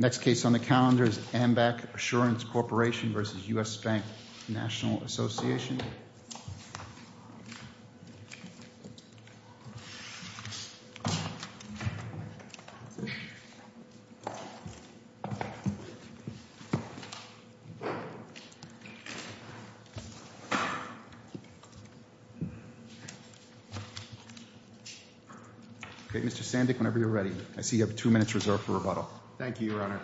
Next case on the calendar is AMBAC Assurance Corporation v. US Bank National Association Mr. Sandick whenever you're ready. I see you have two minutes reserved for rebuttal. Thank you, Your Honor.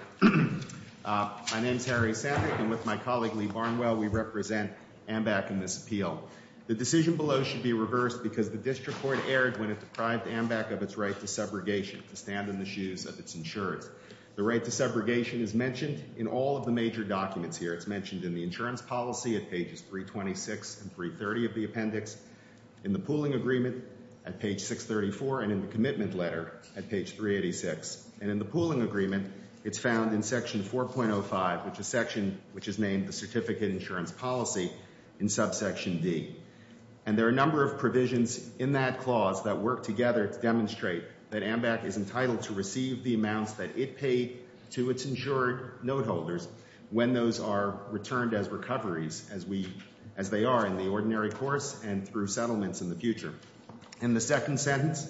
My name is Harry Sandick and with my colleague Lee Barnwell we represent AMBAC in this appeal. The decision below should be reversed because the district court erred when it deprived AMBAC of its right to subrogation to stand in the shoes of its insurance. The right to subrogation is mentioned in all of the major documents here. It's mentioned in the insurance policy at pages 326 and 330 of the appendix, in the pooling agreement at page 634, and in the commitment letter at page 386. And in the pooling agreement it's found in section 4.05 which is named the certificate insurance policy in subsection D. And there are a number of provisions in that clause that work together to demonstrate that AMBAC is entitled to receive the amounts that it paid to its insured note holders when those are returned as recoveries as we as they are in the ordinary course and through settlements in the future. In the second sentence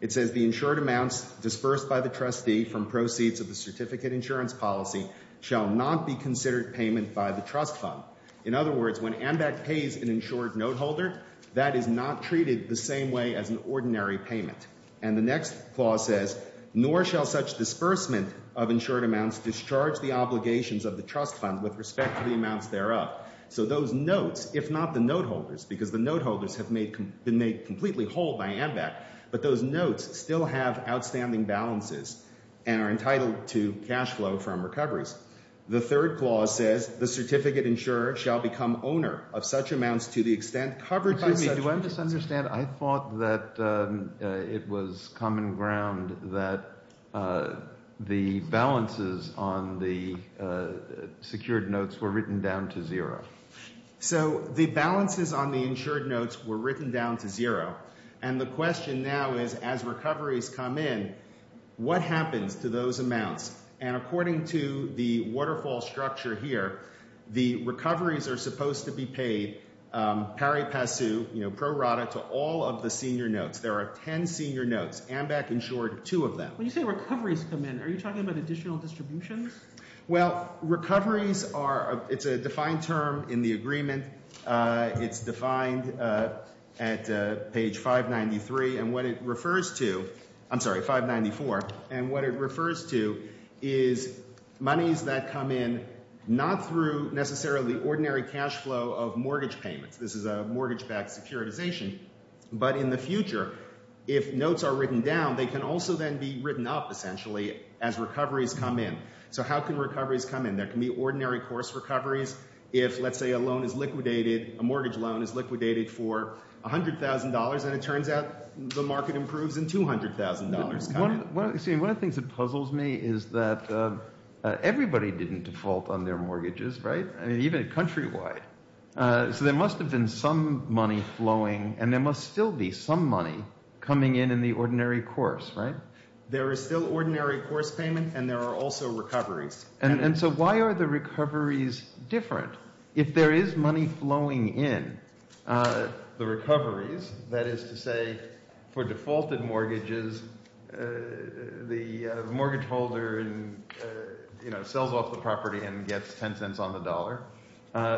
it says the insured amounts dispersed by the trustee from proceeds of the certificate insurance policy shall not be disbursed by the trust fund. In other words, when AMBAC pays an insured note holder, that is not treated the same way as an ordinary payment. And the next clause says, nor shall such disbursement of insured amounts discharge the obligations of the trust fund with respect to the amounts thereof. So those notes, if not the note holders, because the note holders have been made completely whole by AMBAC, but those notes still have outstanding balances and are entitled to cash flow from recoveries. The third clause says the certificate insurer shall become owner of such amounts to the extent covered. Excuse me, do I misunderstand? I thought that it was common ground that the balances on the secured notes were written down to zero. So the balances on the insured notes were written down to zero. And the question now is, as recoveries come in, what happens to those amounts? And according to the waterfall structure here, the recoveries are supposed to be paid pari passu, you know, pro rata, to all of the senior notes. There are 10 senior notes, AMBAC insured two of them. When you say recoveries come in, are you talking about additional distributions? Well, recoveries are, it's a defined term in the agreement. It's defined at page 593. And what it refers to, I'm sorry, 594. And what it refers to is monies that come in not through necessarily ordinary cash flow of mortgage payments. This is a mortgage-backed securitization. But in the future, if notes are written down, they can also then be written up essentially as recoveries come in. So how can recoveries come in? There can be $100,000 and it turns out the market improves in $200,000. One of the things that puzzles me is that everybody didn't default on their mortgages, right? I mean, even countrywide. So there must have been some money flowing and there must still be some money coming in in the ordinary course, right? There is still ordinary course payment and there are also recoveries. And so why are recoveries different? If there is money flowing in the recoveries, that is to say, for defaulted mortgages, the mortgage holder, you know, sells off the property and gets 10 cents on the dollar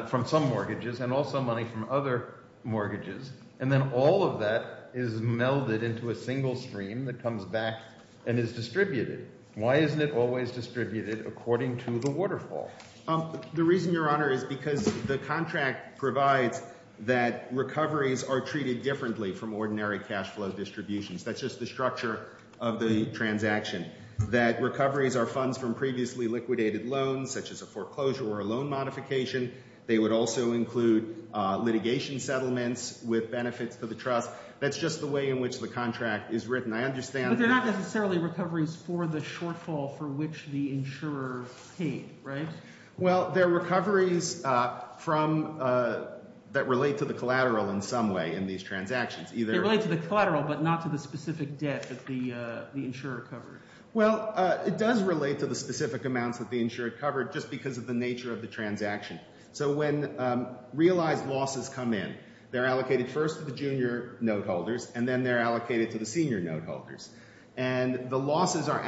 from some mortgages and also money from other mortgages. And then all of that is melded into a single stream that comes back and is distributed. Why isn't it always distributed according to the The reason, Your Honor, is because the contract provides that recoveries are treated differently from ordinary cash flow distributions. That's just the structure of the transaction. That recoveries are funds from previously liquidated loans, such as a foreclosure or a loan modification. They would also include litigation settlements with benefits to the trust. That's just the way in which the contract is written. I understand. But they're not necessarily recoveries for the insurer paid, right? Well, they're recoveries that relate to the collateral in some way in these transactions. They relate to the collateral but not to the specific debt that the insurer covered. Well, it does relate to the specific amounts that the insurer covered just because of the nature of the transaction. So when realized losses come in, they're allocated first to the junior note holders and then they're allocated to the senior note holders. And the losses are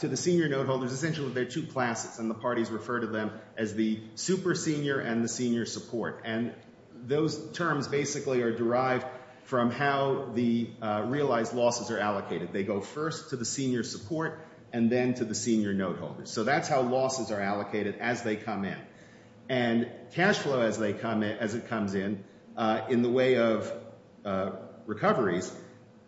essentially they're two classes and the parties refer to them as the super senior and the senior support. And those terms basically are derived from how the realized losses are allocated. They go first to the senior support and then to the senior note holders. So that's how losses are allocated as they come in. And cash flow as it comes in, in the way of recoveries,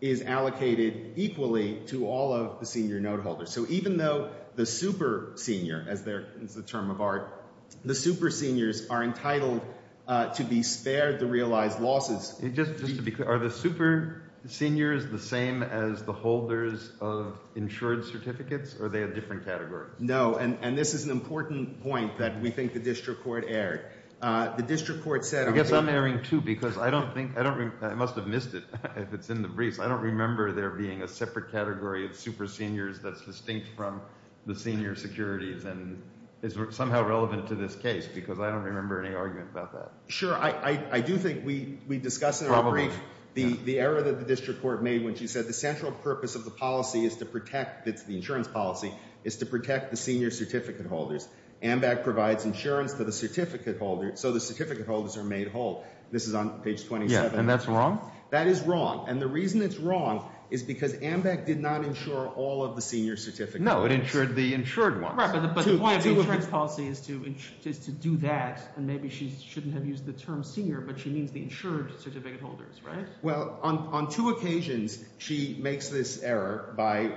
is allocated equally to all of the senior note holders. So even though the super senior, as the term of art, the super seniors are entitled to be spared the realized losses. Just to be clear, are the super seniors the same as the holders of insured certificates or are they a different category? No. And this is an important point that we think the district court erred. The district court said I guess I'm erring too because I don't think, I must have missed it if it's in the briefs, I don't remember there being a separate category of super seniors that's distinct from the senior securities and is somehow relevant to this case because I don't remember any argument about that. Sure. I do think we discussed in our brief the error that the district court made when she said the central purpose of the policy is to protect, it's the insurance policy, is to protect the senior certificate holders. AMVAC provides insurance to the certificate holders so the certificate holders are made whole. This is on page 27. And that's wrong? That is wrong. And the reason it's wrong is because AMVAC did not insure all of the senior certificates. No, it insured the insured ones. But the point of the insurance policy is to do that and maybe she shouldn't have used the term senior but she means the insured certificate holders, right? Well, on two occasions, she makes this error by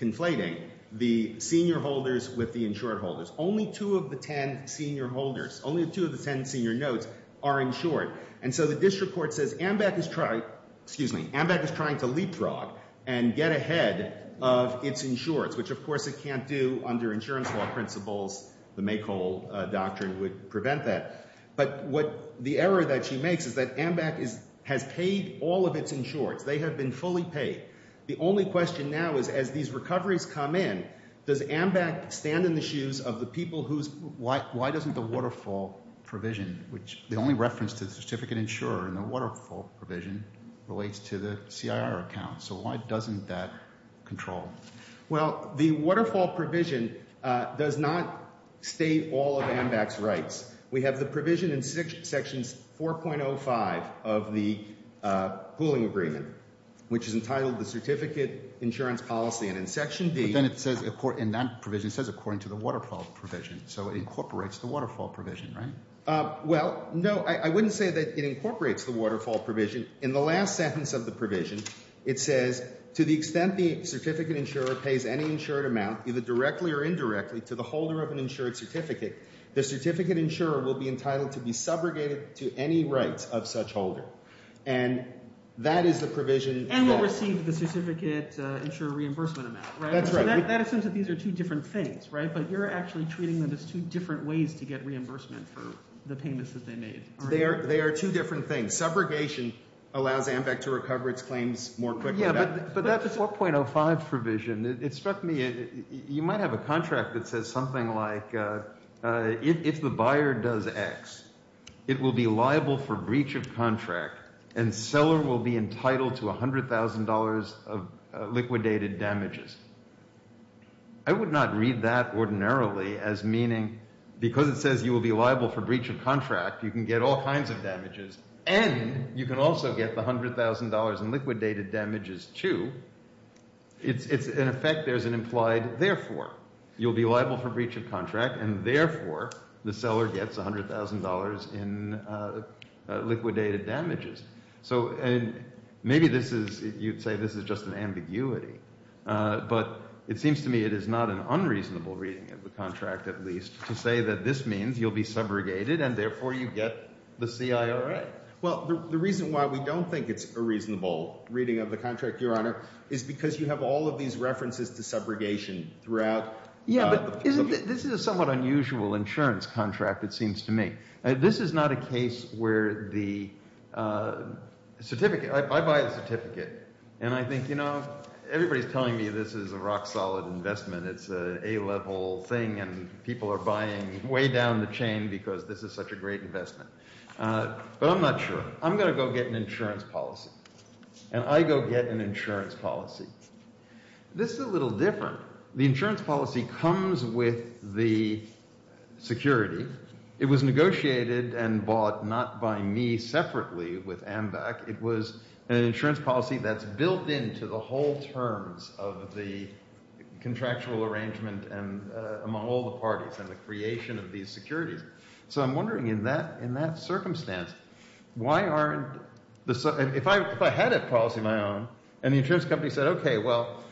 conflating the senior holders with the insured holders. Only two of the ten senior holders, only two of the ten senior notes are insured. And so the district court says AMVAC is trying, excuse me, AMVAC is trying to leapfrog and get ahead of its insureds, which of course it can't do under insurance law principles. The make whole doctrine would prevent that. But what the error that she makes is that AMVAC has paid all of its insureds. They have been fully paid. The only question now is as these recoveries come in, does AMVAC stand in the shoes of the people whose, why doesn't the waterfall provision, which the only reference to the certificate insurer in the waterfall provision relates to the CIR account. So why doesn't that control? Well, the waterfall provision does not state all of AMVAC's rights. We have the provision in sections 4.05 of the pooling agreement, which is entitled the certificate insurance policy. And in section B. But then it says, in that provision, it says according to the waterfall provision. So it Well, no, I wouldn't say that it incorporates the waterfall provision. In the last sentence of the provision, it says to the extent the certificate insurer pays any insured amount, either directly or indirectly to the holder of an insured certificate, the certificate insurer will be entitled to be subrogated to any rights of such holder. And that is the provision. And will receive the certificate insurer reimbursement amount, right? That's right. That assumes that these are two different things, right? But you're actually treating them as two different ways to get reimbursement for the payments that they made, aren't you? They are two different things. Subrogation allows AMVAC to recover its claims more quickly. Yeah, but that 4.05 provision, it struck me, you might have a contract that says something like, if the buyer does X, it will be liable for breach of contract, and seller will be entitled to $100,000 of liquidated damages. I would not read that ordinarily as meaning, because it says you will be liable for breach of contract, you can get all kinds of damages, and you can also get the $100,000 in liquidated damages too. It's in effect, there's an implied, therefore, you'll be liable for breach of contract, and therefore, the seller gets $100,000 in liquidated damages. So, and maybe this is, you'd say this is just an ambiguity, but it seems to me it is not an unreasonable reading of the contract, at least, to say that this means you'll be subrogated, and therefore, you get the CIRA. Well, the reason why we don't think it's a reasonable reading of the contract, Your Honor, is because you have all of these references to subrogation throughout. Yeah, but this is a somewhat unusual insurance contract, it seems to me. This is not a case where the certificate, I buy a certificate, and I think, you know, everybody's telling me this is a rock-solid investment, it's an A-level thing, and people are buying way down the chain because this is such a great investment. But I'm not sure. I'm going to go get an insurance policy, and I go get an insurance policy. This is a little different. The insurance policy comes with the security. It was negotiated and bought, not by me separately with AMVAC, it was an insurance policy that's built into the whole terms of the contractual arrangement among all the parties, and the creation of these securities. So I'm wondering, in that circumstance, why aren't, if I had a policy of my own, and the insurance company said, okay, well,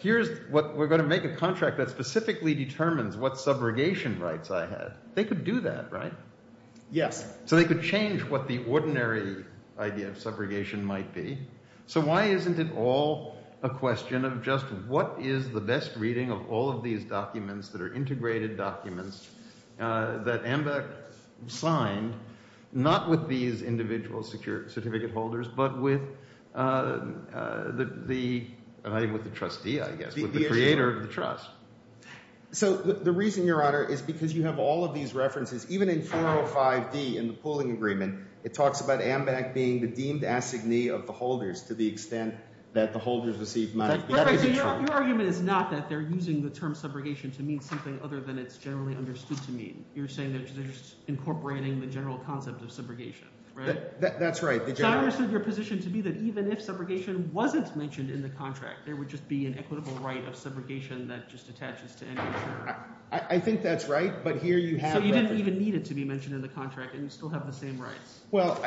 here's what, we're going to make a contract that specifically determines what subrogation rights I had. They could do that, right? Yes. So they could change what the ordinary idea of subrogation might be. So why isn't it all a question of just, what is the best reading of all of these documents that are integrated documents that AMVAC signed, not with these individual certificate holders, but with the trustee, I guess, the creator of the trust. So the reason, Your Honor, is because you have all of these references, even in 405D in the pooling agreement, it talks about AMVAC being the deemed assignee of the holders to the extent that the holders receive money. Your argument is not that they're using the term subrogation to mean something other than it's generally understood to mean. You're saying that they're just incorporating the general concept of subrogation, right? That's right. So I understood your position to be that even if subrogation wasn't mentioned in the contract, there would just be an equitable right of subrogation that just attaches to any insurer. I think that's right, but here you have- So you didn't even need it to be mentioned in the contract, and you still have the same rights. Well,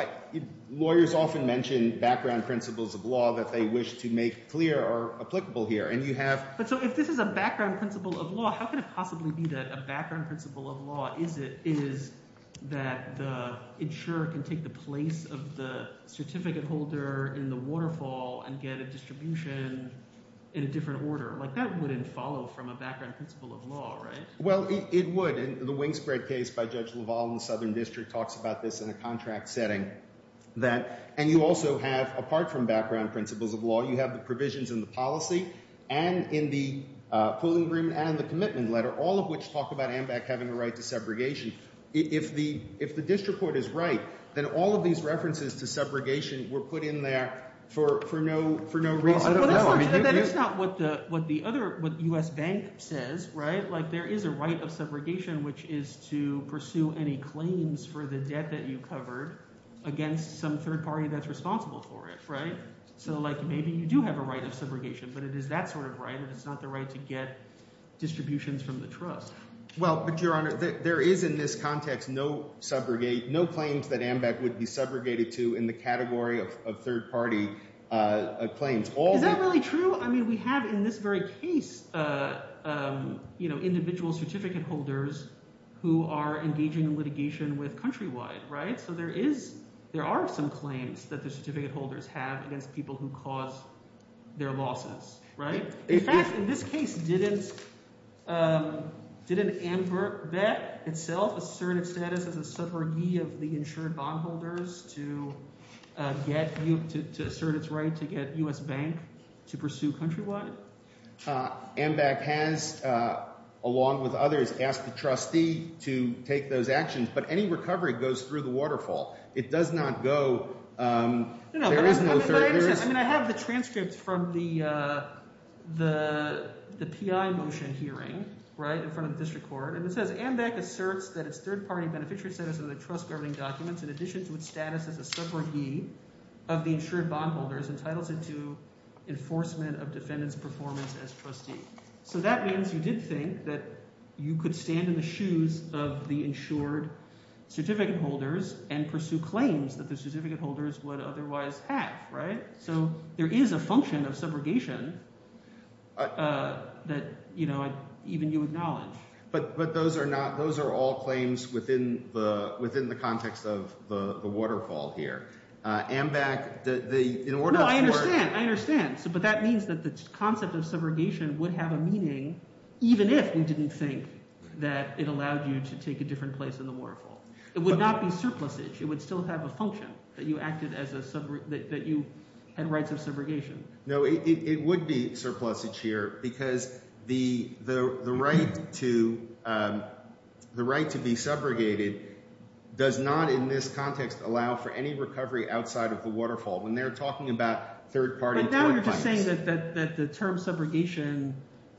lawyers often mention background principles of law that they wish to make clear or applicable here, and you have- But so if this is a background principle of law, how can it possibly be that a background principle of law is that the insurer can take the place of the certificate holder in the waterfall and get a distribution in a different order? That wouldn't follow from a background principle of law, right? Well, it would. The Wingspread case by Judge LaValle in the Southern District talks about this in a contract setting. And you also have, apart from background principles of law, you have the provisions in the policy and in the pooling agreement and in the commitment letter, all of which talk about AMBAC having a right to subrogation. If the district court is right, then all of these references to subrogation were put in there for no reason at all. That is not what the other- what U.S. Bank says, right? Like there is a right of subrogation, which is to pursue any claims for the debt that you covered against some third party that's responsible for it, right? So like maybe you do have a right of subrogation, but it is that sort of right, and it's not the right to get distributions from the trust. Well, but Your Honor, there is in this context no subrogate- no claims that AMBAC would be subrogated to in the category of third party claims. Is that really true? I mean, we have in this very case, you know, individual certificate holders who are engaging in litigation with Countrywide, right? So there is- there are some claims that the certificate holders have against people who cause their losses, right? In fact, in this case, didn't- didn't AMBAC itself assert its status as a subrogee of the insured bondholders to get- to assert its right to get U.S. Bank to pursue Countrywide? AMBAC has, along with others, asked the trustee to take those actions, but any recovery goes through the waterfall. It does not go- there is no third- I mean, I have the transcripts from the- the PI motion hearing, right, in front of the district court, and it says, AMBAC asserts that its third-party beneficiary status of the trust governing documents in addition to its status as a subrogee of the insured bondholders entitles it to enforcement of defendant's performance as trustee. So that means you did think that you could stand in the and pursue claims that the certificate holders would otherwise have, right? So there is a function of subrogation that, you know, even you acknowledge. But- but those are not- those are all claims within the- within the context of the- the waterfall here. AMBAC, the- the- in order- No, I understand. I understand. So- but that means that the concept of subrogation would have a meaning even if we didn't think that it allowed you to take a different place in the waterfall. It would not be surplusage. It would still have a function that you acted as a sub- that you had rights of subrogation. No, it- it would be surplusage here because the- the- the right to- the right to be subrogated does not in this context allow for any recovery outside of the waterfall. When they're talking about third-party- But now you're just saying that- that- that the term subrogation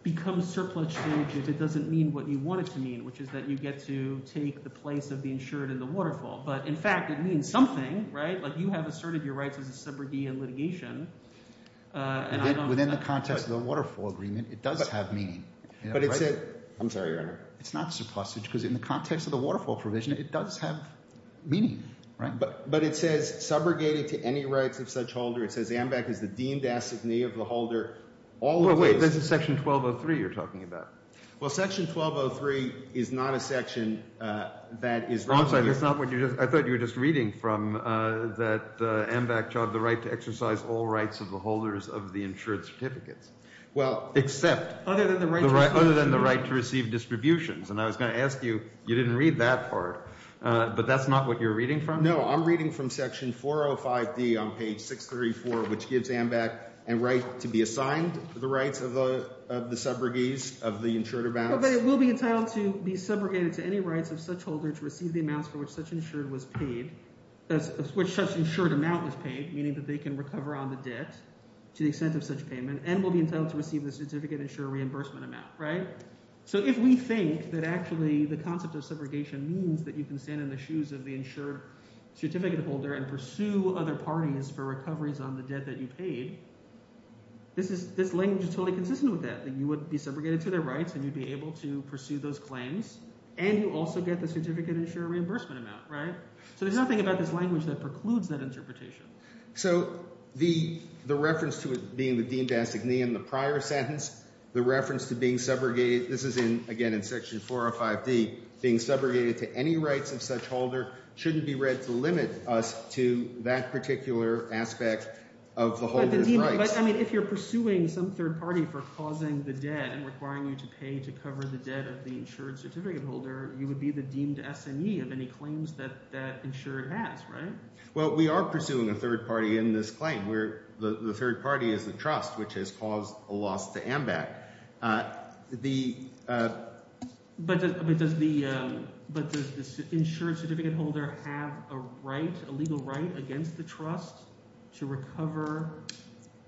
becomes surplusage if it doesn't mean what you want it to mean, which is that you get to take the place of the insured in the waterfall. But, in fact, it means something, right? Like, you have asserted your rights as a subrogee in litigation, and I don't- Within the context of the waterfall agreement, it does have meaning. But it's- I'm sorry, Your Honor. It's not surplusage because in the context of the waterfall provision, it does have meaning, right? But- but it says subrogated to any rights of such holder. It says AMBAC is the deemed assignee of the holder. All- Well, wait. This is Section 1203 you're talking about. Well, Section 1203 is not a section that is- I'm sorry. That's not what you just- I thought you were just reading from that AMBAC job, the right to exercise all rights of the holders of the insured certificates. Well- Except- Other than the right- Other than the right to receive distributions. And I was going to ask you, you didn't read that part, but that's not what you're reading from? No, I'm reading from Section 405D on page 634, which gives AMBAC and right to be assigned the rights of the- of the subrogates of the insured amounts. But it will be entitled to be subrogated to any rights of such holder to receive the amounts for which such insured was paid- which such insured amount was paid, meaning that they can recover on the debt to the extent of such payment, and will be entitled to receive the certificate insurer reimbursement amount, right? So if we think that actually the concept of subrogation means that you can stand in the shoes of the insured certificate holder and pursue other parties for recoveries on the debt that you paid, this is- this language is totally consistent with that, that you would be subrogated to their rights and you'd be able to pursue those claims, and you also get the certificate insurer reimbursement amount, right? So there's nothing about this language that precludes that interpretation. So the- the reference to it being the deemed- in the prior sentence, the reference to being subrogated- this is in, again, in Section 405D, being subrogated to any rights of such holder shouldn't be read to limit us to that particular aspect of the holder's rights. I mean, if you're pursuing some third party for causing the debt and requiring you to pay to cover the debt of the insured certificate holder, you would be the deemed SME of any claims that that insured has, right? Well, we are pursuing a third party in this claim. We're- the third party is the trust, which has caused a loss to AMBAC. The- But does the- but does the insured certificate holder have a right, a legal right, against the trust to recover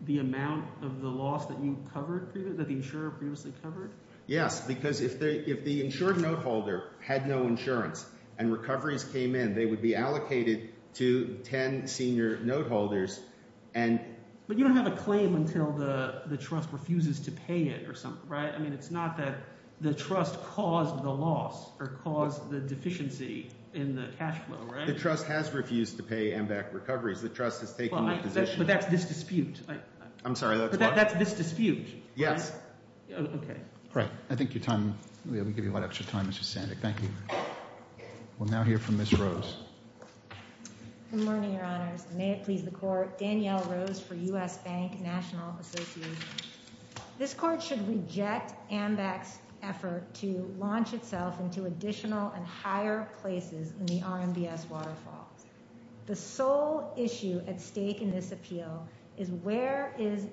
the amount of the loss that you covered, that the insurer previously covered? Yes, because if the- if the insured note holder had no insurance and recoveries came in, they would be allocated to 10 senior note holders and- But you don't have a claim until the- the insured certificate or something, right? I mean, it's not that the trust caused the loss or caused the deficiency in the cash flow, right? The trust has refused to pay AMBAC recoveries. The trust has taken the position- But that's this dispute. I'm sorry, that's what? But that's this dispute. Yes. Okay. Right. I think your time- we'll give you a lot extra time, Mr. Sandick. Thank you. We'll now hear from Ms. Rose. Good morning, Your Honors. And may it please the Court, Danielle Rose for U.S. Bank National Association. This Court should reject AMBAC's effort to launch itself into additional and higher places in the RMBS waterfall. The sole issue at stake in this appeal is where is-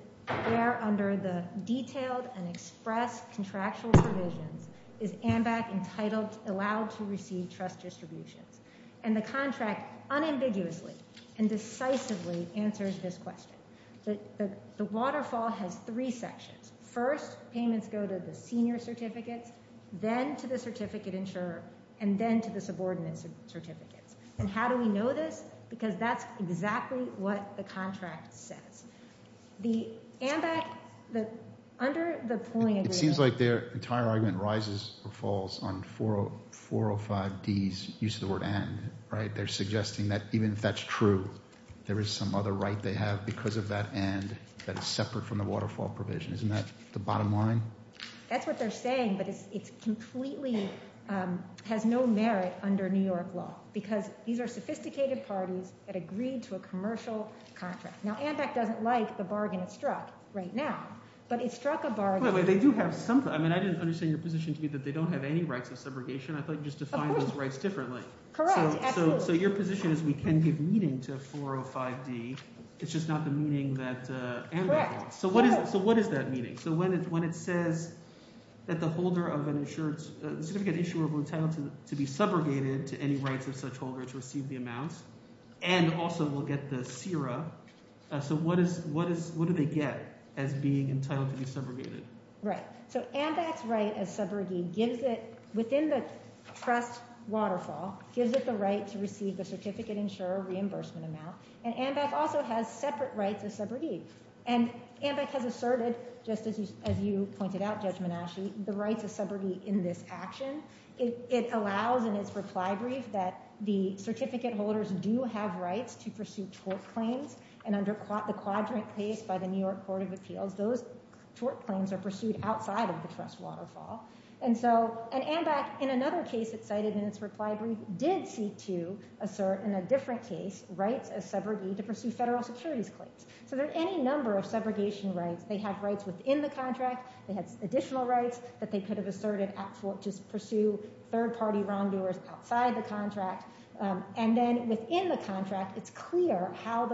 where under the detailed and expressed contractual provisions is AMBAC entitled- allowed to receive trust distributions. And the contract unambiguously and decisively answers this question. The waterfall has three sections. First, payments go to the senior certificates, then to the certificate insurer, and then to the subordinate certificates. And how do we know this? Because that's exactly what the contract says. The AMBAC- the- under the pulling agreement- It seems like their entire argument rises or falls on 405D's use of the right. They're suggesting that even if that's true, there is some other right they have because of that and that is separate from the waterfall provision. Isn't that the bottom line? That's what they're saying, but it's completely- has no merit under New York law because these are sophisticated parties that agreed to a commercial contract. Now, AMBAC doesn't like the bargain it struck right now, but it struck a bargain- Wait, wait. They do have some- I mean, I didn't understand your position to me that they don't have any rights of subrogation. I thought you just defined those rights differently. Correct, absolutely. So your position is we can give meaning to 405D, it's just not the meaning that AMBAC wants. Correct. So what is that meaning? So when it says that the holder of an insurance- the certificate insurer will be entitled to be subrogated to any rights of such holder to receive the amounts and also will get the CIRA. So what do they get as being entitled to be subrogated? Right. So AMBAC's right as subrogate gives it- within the trust waterfall- gives it the right to receive the certificate insurer reimbursement amount, and AMBAC also has separate rights of subrogate. And AMBAC has asserted, just as you pointed out, Judge Menasci, the rights of subrogate in this action. It allows in its reply brief that the certificate holders do have rights to pursue tort claims, and under the quadrant placed by the New York Court of Appeals, those tort claims are pursued outside of the trust waterfall. And so- it cited in its reply brief- did seek to assert in a different case rights as subrogate to pursue federal securities claims. So there are any number of subrogation rights. They have rights within the contract. They have additional rights that they could have asserted at- just pursue third-party wrongdoers outside the contract. And then within the contract, it's clear how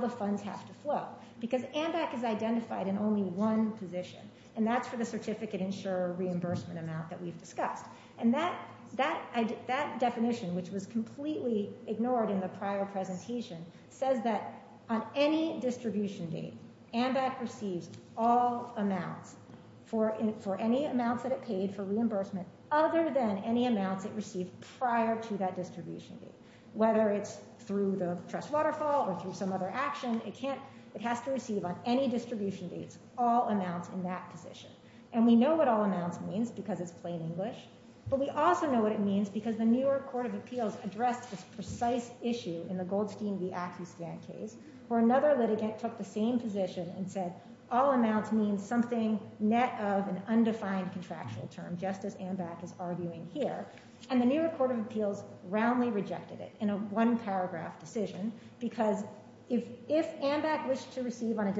the funds have to flow because AMBAC is identified in only one position, and that's for the certificate insurer reimbursement amount that we've discussed. And that- that- that definition, which was completely ignored in the prior presentation, says that on any distribution date, AMBAC receives all amounts for- for any amounts that it paid for reimbursement other than any amounts it received prior to that distribution date. Whether it's through the trust waterfall or through some other action, it can't- it has to receive on any distribution dates all amounts in that position. And we know what all amounts means because it's plain English, but we also know what it means because the New York Court of Appeals addressed this precise issue in the Goldstein v. Acoustan case, where another litigant took the same position and said all amounts means something net of an undefined contractual term, just as AMBAC is arguing here. And the New York Court of Appeals roundly rejected it in a one paragraph decision because if- if AMBAC wished to receive on a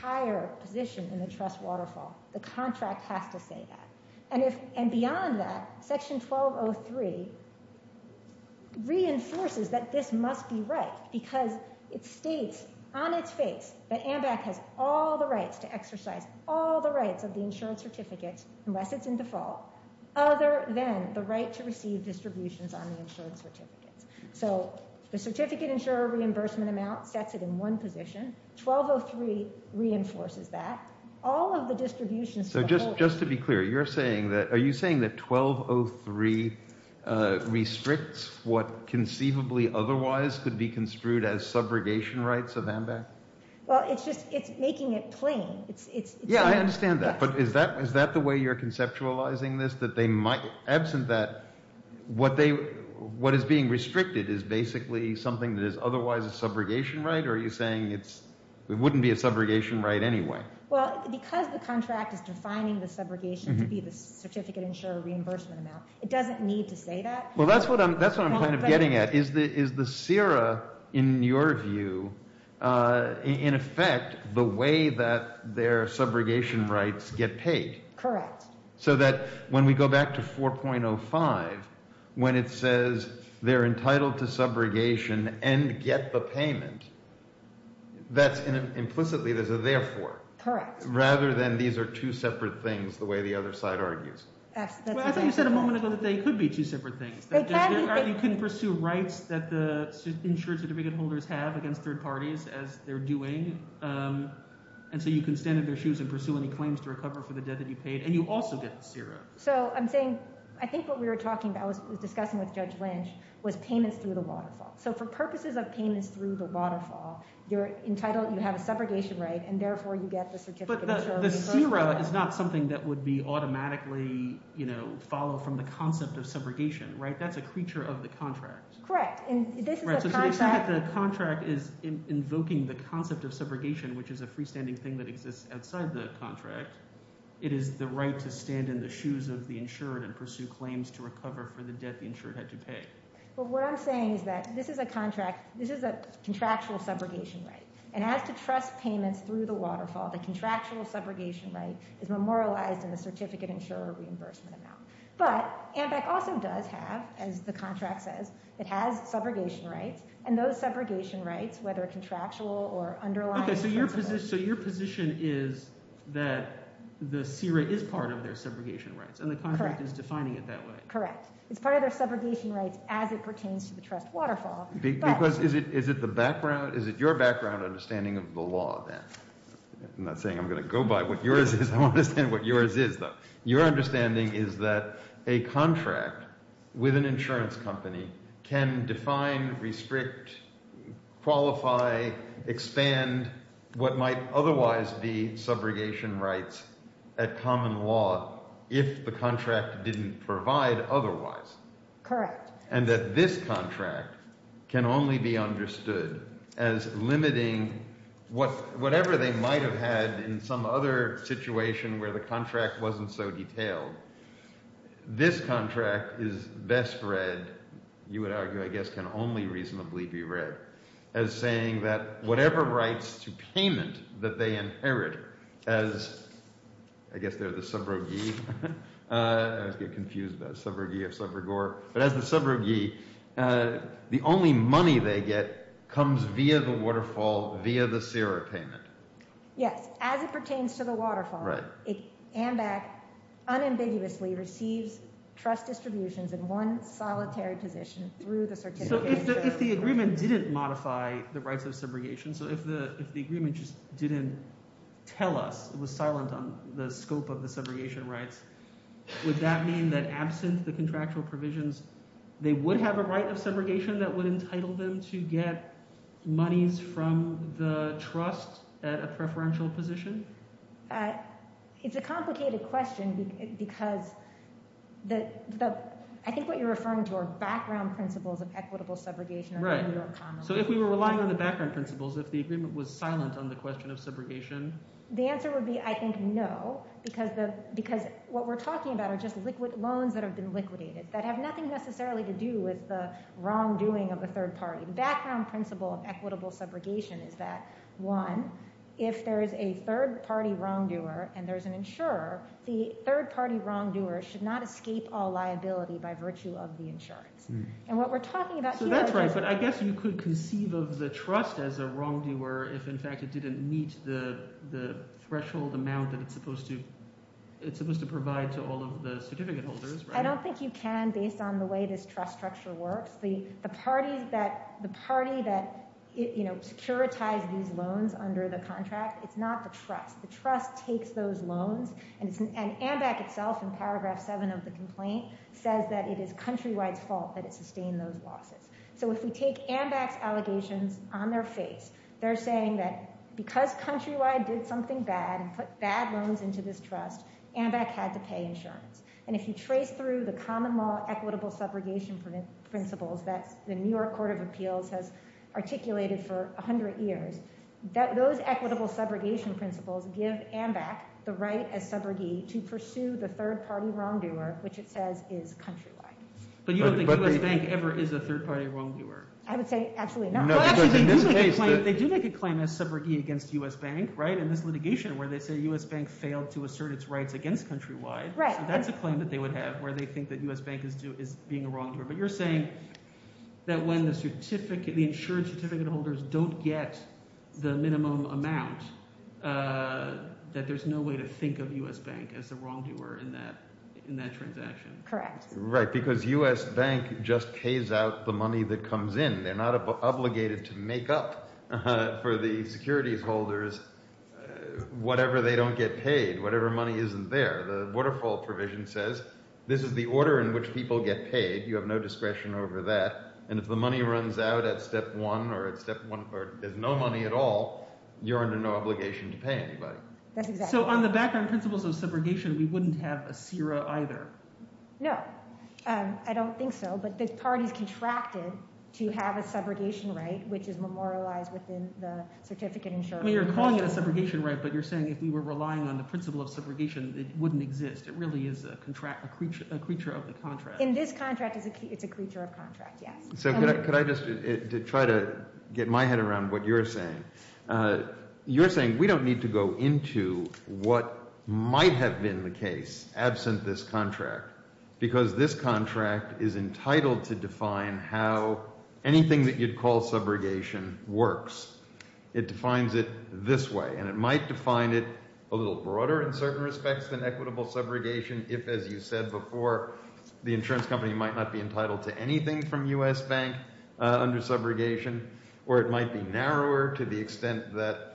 higher position in the trust waterfall, the contract has to say that. And if- and beyond that, section 1203 reinforces that this must be right because it states on its face that AMBAC has all the rights to exercise all the rights of the insurance certificates, unless it's in default, other than the right to receive distributions on the insurance certificates. So the certificate insurer reimbursement amount sets it in one position. 1203 reinforces that. All of the distributions- So just- just to be clear, you're saying that- are you saying that 1203 restricts what conceivably otherwise could be construed as subrogation rights of AMBAC? Well, it's just- it's making it plain. It's- it's- Yeah, I understand that, but is that- is that the way you're conceptualizing this? That they might- absent that, what they- what is being restricted is basically something that is otherwise a subrogation right? Or are you saying it's- it wouldn't be a subrogation right anyway? Well, because the contract is defining the subrogation to be the certificate insurer reimbursement amount, it doesn't need to say that. Well, that's what I'm- that's what I'm kind of getting at. Is the- is the CIRA, in your view, in effect, the way that their subrogation rights get paid? Correct. So that when we go back to 4.05, when it says they're entitled to subrogation and get the payment, that's in- implicitly, there's a therefore. Correct. Rather than these are two separate things, the way the other side argues. Well, I thought you said a moment ago that they could be two separate things. You can pursue rights that the insurance certificate holders have against third parties, as they're doing, and so you can stand in their shoes and pursue any claims to recover for the debt that you paid, and you also get the CIRA. So I'm saying- I think what we were talking about was- was discussing with Judge Lynch was payments through the waterfall. So for purposes of payments through the waterfall, you're entitled- you have a subrogation right, and therefore you get the certificate insurer reimbursement amount. But the CIRA is not something that would be automatically, you know, followed from the concept of subrogation, right? That's a creature of the contract. Correct. And this is the contract- The contract is invoking the concept of subrogation, which is a freestanding thing that exists outside the contract. It is the right to stand in the shoes of the insured and pursue claims to recover for the debt the insured had to pay. But what I'm saying is that this is a contract- this is a contractual subrogation right, and as to trust payments through the waterfall, the contractual subrogation right is memorialized in the certificate insurer reimbursement amount. But AMBEC also does have, as the contract says, it has subrogation rights, and those subrogation rights, whether contractual or underlying- Okay, so your position is that the CIRA is part of their subrogation rights, and the contract is defining it that way. Correct. It's part of their subrogation rights as it pertains to the trust waterfall, but- Because is it the background- is it your background understanding of the law, then? I'm not saying I'm going to go by what yours is. I want to understand what yours is, though. Your understanding is that a contract with an insurance company can define, restrict, qualify, expand what might otherwise be subrogation rights at common law if the contract didn't provide otherwise. Correct. And that this contract can only be understood as limiting whatever they might have had in some other you would argue, I guess, can only reasonably be read as saying that whatever rights to payment that they inherit as, I guess, they're the subrogee. I always get confused about subrogee of subrogore, but as the subrogee, the only money they get comes via the waterfall, via the CIRA payment. Yes, as it pertains to the waterfall, AMBEC unambiguously receives trust distributions in one solitary position through the certificate. So if the agreement didn't modify the rights of subrogation, so if the agreement just didn't tell us it was silent on the scope of the subrogation rights, would that mean that absent the contractual provisions, they would have a right of subrogation that would entitle them to get monies from the trust at a preferential position? It's a complicated question because I think what you're referring to are background principles of equitable subrogation. Right, so if we were relying on the background principles, if the agreement was silent on the question of subrogation? The answer would be, I think, no, because what we're talking about are just liquid loans that have been liquidated that have nothing necessarily to do with the wrongdoing of the third party. The background principle of equitable subrogation is that, one, if there is a third party wrongdoer and there's an insurer, the third party wrongdoer should not escape all liability by virtue of the insurance. And what we're talking about here... So that's right, but I guess you could conceive of the trust as a wrongdoer if, in fact, it didn't meet the threshold amount that it's supposed to provide to all of the certificate holders, right? I don't think you can based on the way this trust structure works. The party that securitized these loans under the contract, it's not the trust. The trust takes those loans, and AMBAC itself, in paragraph 7 of the complaint, says that it is Countrywide's fault that it sustained those losses. So if we take AMBAC's allegations on their face, they're saying that because Countrywide did something bad and put bad loans into this trust, AMBAC had to pay insurance. And if you trace through the common law equitable subrogation principles that the New York Court of Appeals has articulated for 100 years, those equitable subrogation principles give AMBAC the right as subrogee to pursue the third party wrongdoer, which it says is Countrywide. But you don't think U.S. Bank ever is a third party wrongdoer? I would say absolutely not. They do make a claim as subrogee against U.S. Bank, right, in this litigation, where they say U.S. Bank failed to assert its rights against Countrywide. So that's a claim that they would have, where they think that U.S. Bank is being a wrongdoer. But you're saying that when the insured certificate holders don't get the minimum amount, that there's no way to think of U.S. Bank as the wrongdoer in that transaction? Correct. Right, because U.S. Bank just pays out the money that comes in. They're not they don't get paid, whatever money isn't there. The waterfall provision says, this is the order in which people get paid. You have no discretion over that. And if the money runs out at step one, or at step one, or there's no money at all, you're under no obligation to pay anybody. So on the background principles of subrogation, we wouldn't have a CIRA either? No, I don't think so. But the parties contracted to have a subrogation right, which is memorialized within the certificate insurance. You're calling it a subrogation right, but you're saying if we were relying on the principle of subrogation, it wouldn't exist. It really is a creature of the contract. In this contract, it's a creature of contract, yes. So could I just try to get my head around what you're saying? You're saying we don't need to go into what might have been the case absent this contract, because this contract is entitled to define how anything that you'd call equitable subrogation works. It defines it this way, and it might define it a little broader in certain respects than equitable subrogation, if, as you said before, the insurance company might not be entitled to anything from U.S. Bank under subrogation, or it might be narrower to the extent that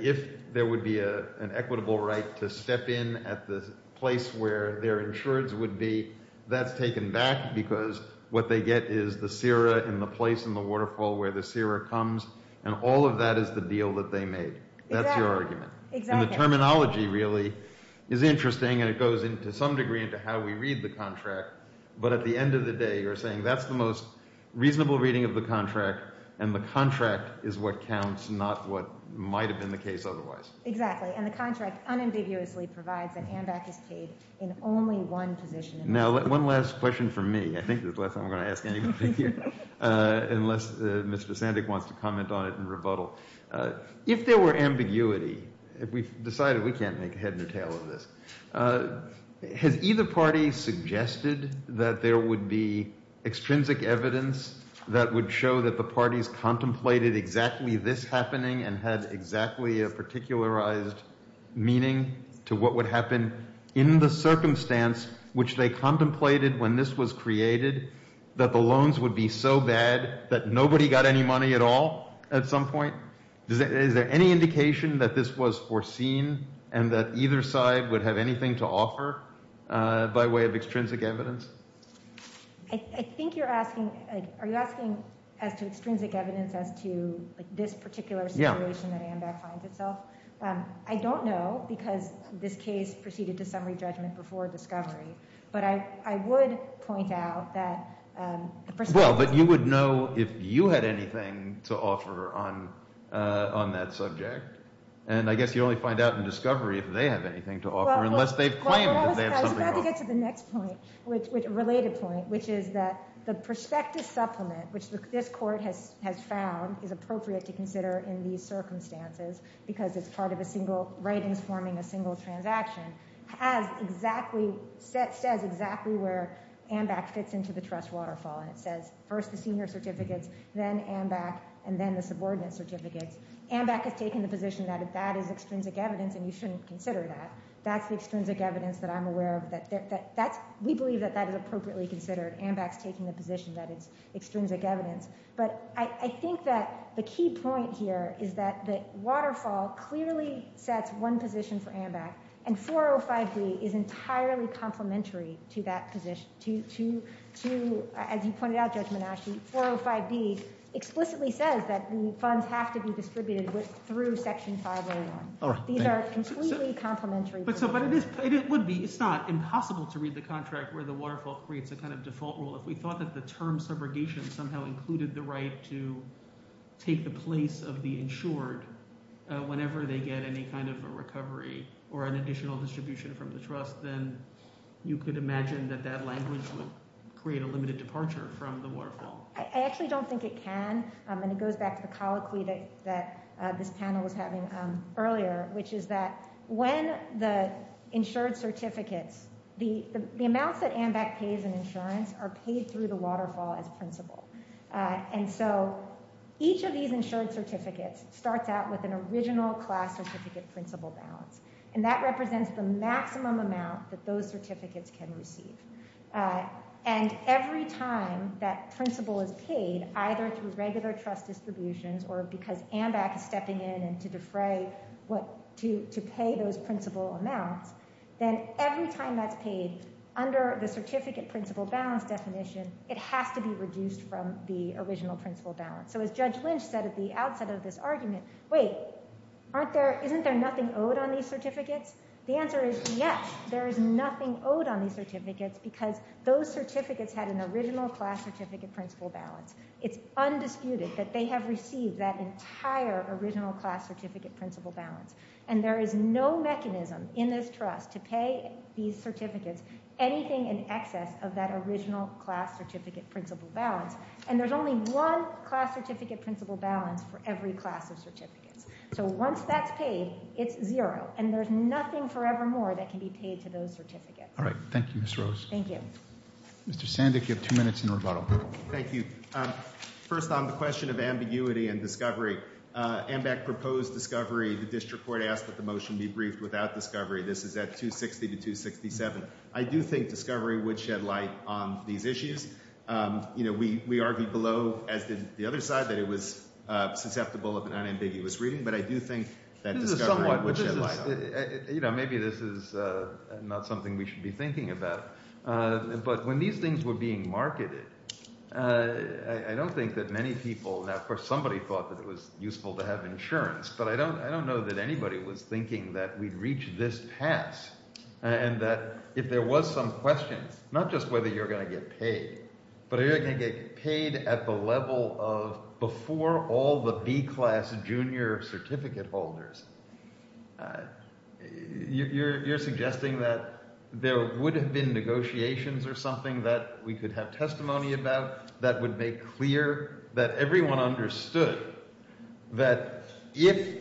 if there would be an equitable right to step in at the place where their insurance would be, that's taken back because what they get is the sera in the place in the waterfall where the sera comes, and all of that is the deal that they made. That's your argument. And the terminology really is interesting, and it goes into some degree into how we read the contract, but at the end of the day, you're saying that's the most reasonable reading of the contract, and the contract is what counts, not what might have been the case otherwise. Exactly, and the contract unambiguously provides that AMBAC is paid in only one position. Now, one last question from me. I think this is the last time I'm going to ask anybody here, unless Mr. Sandek wants to comment on it and rebuttal. If there were ambiguity, if we've decided we can't make a head or tail of this, has either party suggested that there would be extrinsic evidence that would show that the parties contemplated exactly this happening and had exactly a particularized meaning to what happened in the circumstance which they contemplated when this was created, that the loans would be so bad that nobody got any money at all at some point? Is there any indication that this was foreseen and that either side would have anything to offer by way of extrinsic evidence? I think you're asking, are you asking as to extrinsic evidence as to like this particular situation that AMBAC finds itself? I don't know, because this case proceeded to summary judgment before discovery, but I would point out that... Well, but you would know if you had anything to offer on that subject, and I guess you only find out in discovery if they have anything to offer unless they've claimed that they have something to offer. I was about to get to the next point, a related point, which is that the prospective supplement, which this court has found is appropriate to consider in these circumstances because it's part of a single, ratings forming a single transaction, has exactly, says exactly where AMBAC fits into the trust waterfall, and it says first the senior certificates, then AMBAC, and then the subordinate certificates. AMBAC has taken the position that that is extrinsic evidence and you shouldn't consider that. That's the extrinsic evidence that I'm aware of, that AMBAC's taking the position that it's extrinsic evidence, but I think that the key point here is that the waterfall clearly sets one position for AMBAC, and 405B is entirely complementary to that position, to, as you pointed out, Judge Menasci, 405B explicitly says that the funds have to be distributed through section 501. These are completely complementary. But it would be, it's not impossible to read the contract where the waterfall creates a kind of default rule. If we thought that the term subrogation somehow included the right to take the place of the insured whenever they get any kind of a recovery or an additional distribution from the trust, then you could imagine that that language would create a limited departure from the waterfall. I actually don't think it can, and it goes back to the colloquy that this panel was having earlier, which is that when the insured certificates, the amounts that AMBAC pays in insurance are paid through the waterfall as principal. And so each of these insured certificates starts out with an original class certificate principal balance, and that represents the maximum amount that those certificates can receive. And every time that principal is paid, either through regular trust distributions or because AMBAC is stepping in and to defray what to pay those principal amounts, then every time that's paid under the certificate principal balance definition, it has to be reduced from the original principal balance. So as Judge Lynch said at the outset of this argument, wait, aren't there, isn't there nothing owed on these certificates? The answer is yes, there is nothing owed on these certificates because those certificates had an original class certificate principal balance. It's undisputed that they have received that entire original class certificate principal balance, and there is no mechanism in this trust to pay these certificates anything in excess of that original class certificate principal balance, and there's only one class certificate principal balance for every class of certificates. So once that's paid, it's zero, and there's nothing forevermore that can be paid to those certificates. All right, thank you, Ms. Rose. Thank you. Mr. Sandek, you have two minutes in rebuttal. Thank you. First on the question of ambiguity and discovery, AMBAC proposed discovery. The district court asked that the motion be briefed without discovery. This is at 260 to 267. I do think discovery would shed light on these issues. You know, we argued below, as did the other side, that it was susceptible of an unambiguous reading, but I do think that discovery would shed light. You know, maybe this is not something we but when these things were being marketed, I don't think that many people, now, of course, somebody thought that it was useful to have insurance, but I don't know that anybody was thinking that we'd reach this pass, and that if there was some question, not just whether you're going to get paid, but are you going to get paid at the level of before all the B-class junior holders, you're suggesting that there would have been negotiations or something that we could have testimony about that would make clear that everyone understood that if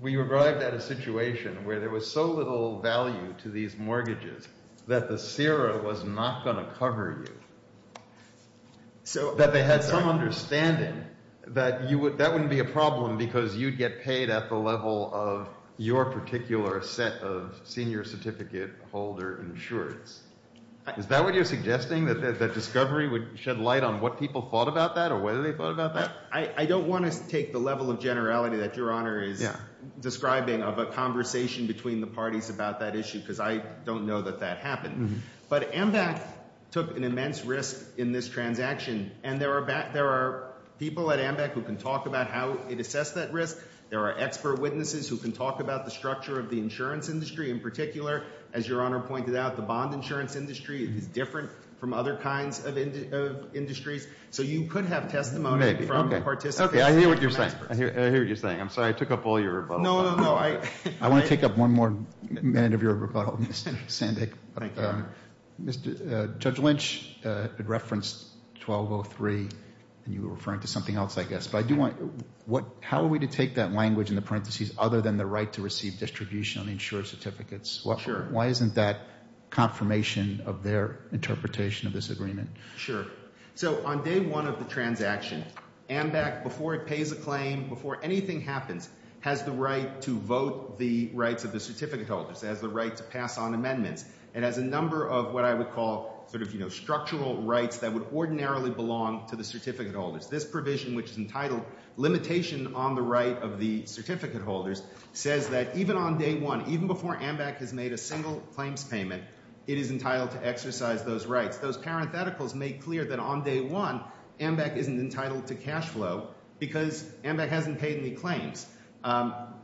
we arrived at a situation where there was so little value to these mortgages that the CIRA was not going to cover you, so that they had some understanding that you would, that wouldn't be a problem because you'd get paid at the level of your particular set of senior certificate holder insurance. Is that what you're suggesting, that discovery would shed light on what people thought about that or whether they thought about that? I don't want to take the level of generality that Your Honor is describing of a conversation between the parties about that issue, because I took an immense risk in this transaction, and there are people at AMBEC who can talk about how it assessed that risk. There are expert witnesses who can talk about the structure of the insurance industry, in particular, as Your Honor pointed out, the bond insurance industry is different from other kinds of industries, so you could have testimony from the participants. I hear what you're saying. I'm sorry, I took up all your rebuttal. I want to take up one more minute of your rebuttal, Mr. Sandek. Judge Lynch had referenced 1203, and you were referring to something else, I guess, but I do want, how are we to take that language in the parentheses other than the right to receive distribution on insurance certificates? Why isn't that confirmation of their interpretation of this agreement? Sure. So on day one of the transaction, AMBEC, before it pays a claim, before anything happens, has the right to vote the rights of the certificate holders, has the right to pass on amendments, and has a number of what I would call structural rights that would ordinarily belong to the certificate holders. This provision, which is entitled limitation on the right of the certificate holders, says that even on day one, even before AMBEC has made a single claims payment, it is entitled to exercise those rights. Those parentheticals make clear that on day one, AMBEC isn't entitled to cash flow because AMBEC hasn't paid any claims.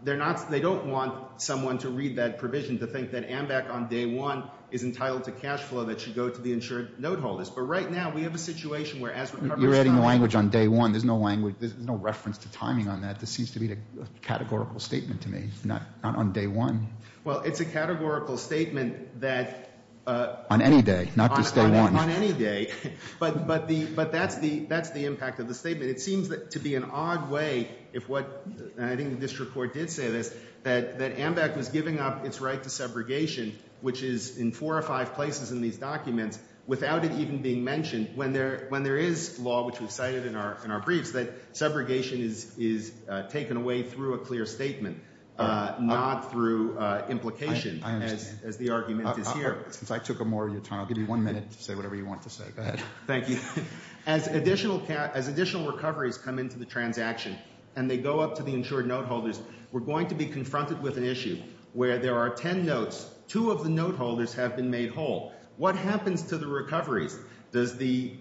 They're not, they don't want someone to read that provision to think that AMBEC on day one is entitled to cash flow that should go to the insured note holders. But right now, we have a situation where as- You're adding language on day one. There's no language, there's no reference to timing on that. This seems to be a categorical statement to me, not on day one. Well, it's a categorical statement that- On any day, not just day one. On any day, but that's the impact of the statement. It seems to be an odd way, if what, and I think the district court did say this, that AMBEC was giving up its right to subrogation, which is in four or five places in these documents, without it even being mentioned when there is law, which we've cited in our briefs, that subrogation is taken away through a clear statement, not through implication, as the argument is here. Since I took up more of your time, I'll give you one minute to say whatever you want to say. Go ahead. Thank you. As additional recoveries come into the transaction and they go up to the insured note holders, we're going to be confronted with an issue where there are 10 notes, two of the note holders have been made whole. What happens to the recoveries? Does the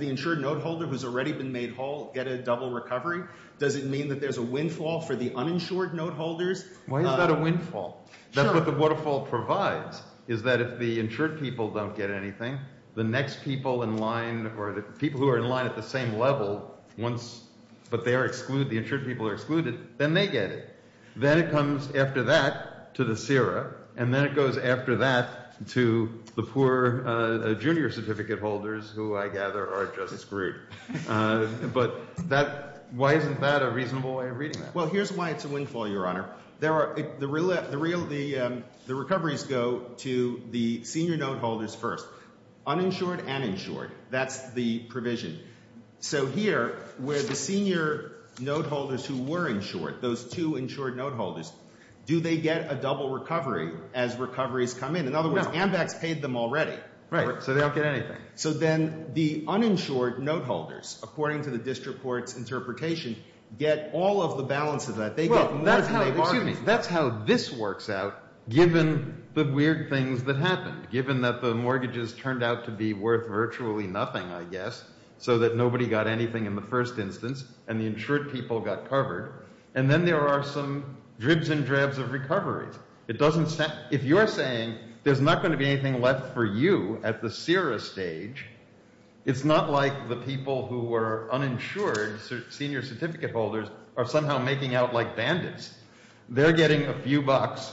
insured note holder who's already been made whole get a double recovery? Does it mean that there's a windfall for the uninsured note holders? Why is that a windfall? That's what the waterfall provides, is that if the insured people don't get anything, the next people in line, or the people who are in line at the same level, but the insured people are excluded, then they get it. Then it comes after that to the CIRA, and then it goes after that to the poor junior certificate holders, who I gather are just screwed. But why isn't that a reasonable way of reading that? Here's why it's a windfall, Your Honor. The recoveries go to the senior note holders first, uninsured and insured. That's the provision. Here, where the senior note holders who were insured, those two insured note holders, do they get a double recovery as recoveries come in? No. In other words, Ambex paid them already. Right, so they don't get anything. So then the uninsured note holders, according to the district court's interpretation, get all of the balance of that. Well, that's how, excuse me, that's how this works out, given the weird things that happened, given that the mortgages turned out to be worth virtually nothing, I guess, so that nobody got anything in the first instance, and the insured people got covered. And then there are some dribs and drabs of recoveries. If you're saying there's not going to be anything left for you at the CIRA stage, it's not like the people who were uninsured, senior certificate holders, are somehow making out like bandits. They're getting a few bucks,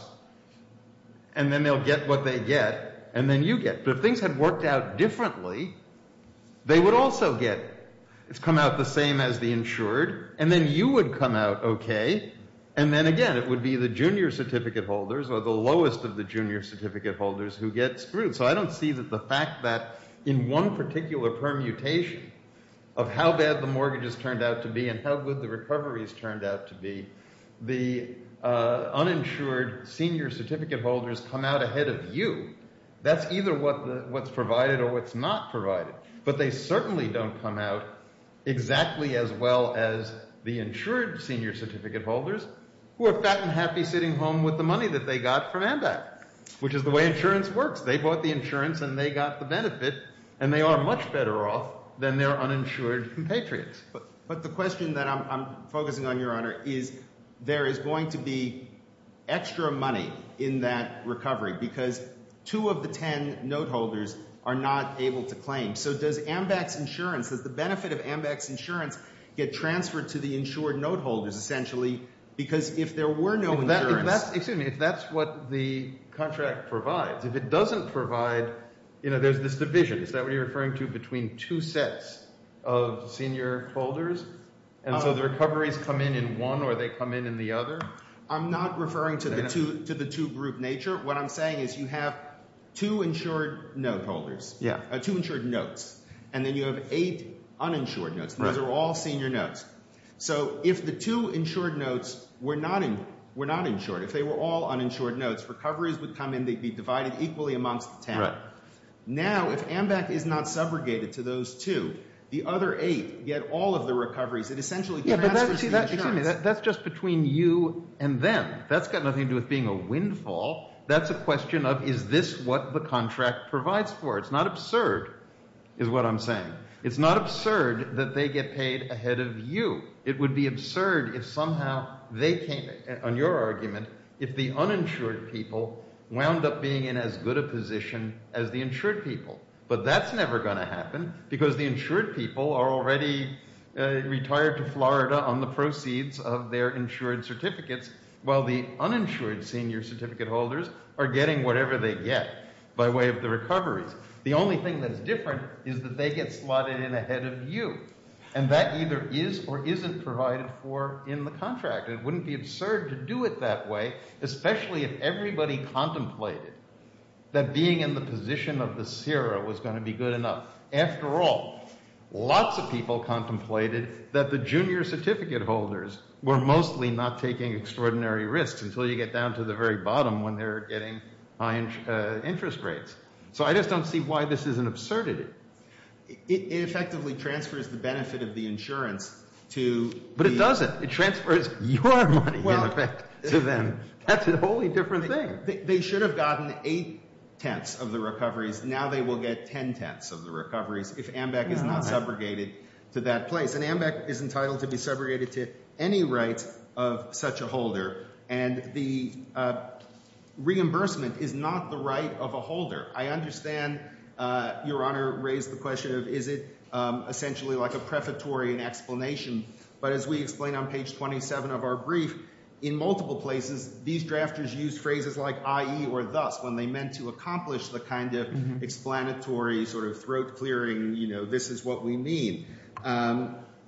and then they'll get what they get, and then you get. But if things had worked out differently, they would also get, it's come out the same as the insured, and then you would come out okay, and then again, it would be the junior certificate holders, or the lowest of the junior certificate holders, who get screwed. So I don't see that the fact that in one particular permutation of how bad the mortgages turned out to be, and how good the recoveries turned out to be, the uninsured senior certificate holders come out ahead of you. That's either what's provided or what's not provided. But they certainly don't come out exactly as well as the insured senior certificate holders, who are fat and happy sitting home with the money that they got from AMBAC, which is the way insurance works. They bought the insurance, and they got the benefit, and they are much better off than their uninsured compatriots. But the question that I'm focusing on, Your Honor, is there is going to be extra money in that recovery, because two of the ten note holders are not able to claim. So does AMBAC's insurance, does the benefit of AMBAC's insurance, get transferred to the insured note holders, essentially, because if there were no insurance— If that's, excuse me, if that's what the contract provides. If it doesn't provide, you know, there's this division. Is that what you're referring to, between two sets of senior holders? And so the recoveries come in in one, or they come in in the other? I'm not referring to the two-group nature. What I'm saying is you have two insured note holders, two insured notes, and then you have eight uninsured notes. Those are all senior notes. So if the two insured notes were not insured, if they were all uninsured notes, recoveries would come in. They'd be divided equally amongst the ten. Now, if AMBAC is not subrogated to those two, the other eight get all of the recoveries. It essentially transfers to the insured. That's just between you and them. That's got nothing to do with being a windfall. That's a question of, is this what the contract provides for? It's not absurd, is what I'm saying. It's not absurd that they get paid ahead of you. It would be absurd if somehow they came, on your argument, if the uninsured people wound up being in as good a position as the insured people. But that's never going to happen, because the insured people are already retired to Florida on the proceeds of their insured certificates, while the uninsured senior certificate holders are getting whatever they get by way of the recoveries. The only thing that's different is that they get slotted in ahead of you. And that either is or isn't provided for in the contract. It wouldn't be absurd to do it that way, especially if everybody contemplated that being in the position of the CIRA was going to be good enough. After all, lots of people contemplated that the junior certificate holders were mostly not taking extraordinary risks until you get down to the very bottom when they're getting high interest rates. So I just don't see why this is an absurdity. It effectively transfers the benefit of the insurance to the... Well, that's a wholly different thing. They should have gotten 8 tenths of the recoveries. Now they will get 10 tenths of the recoveries if AMBEC is not subrogated to that place. And AMBEC is entitled to be subrogated to any right of such a holder. And the reimbursement is not the right of a holder. I understand Your Honor raised the question of is it essentially like a prefatory and explanation. But as we explained on page 27 of our brief, in multiple places, these drafters used phrases like i.e. or thus when they meant to accomplish the kind of explanatory sort of throat clearing, you know, this is what we mean.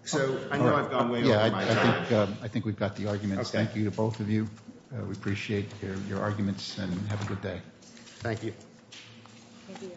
So I know I've gone way over my time. I think we've got the arguments. Thank you to both of you. We appreciate your arguments and have a good day. Thank you.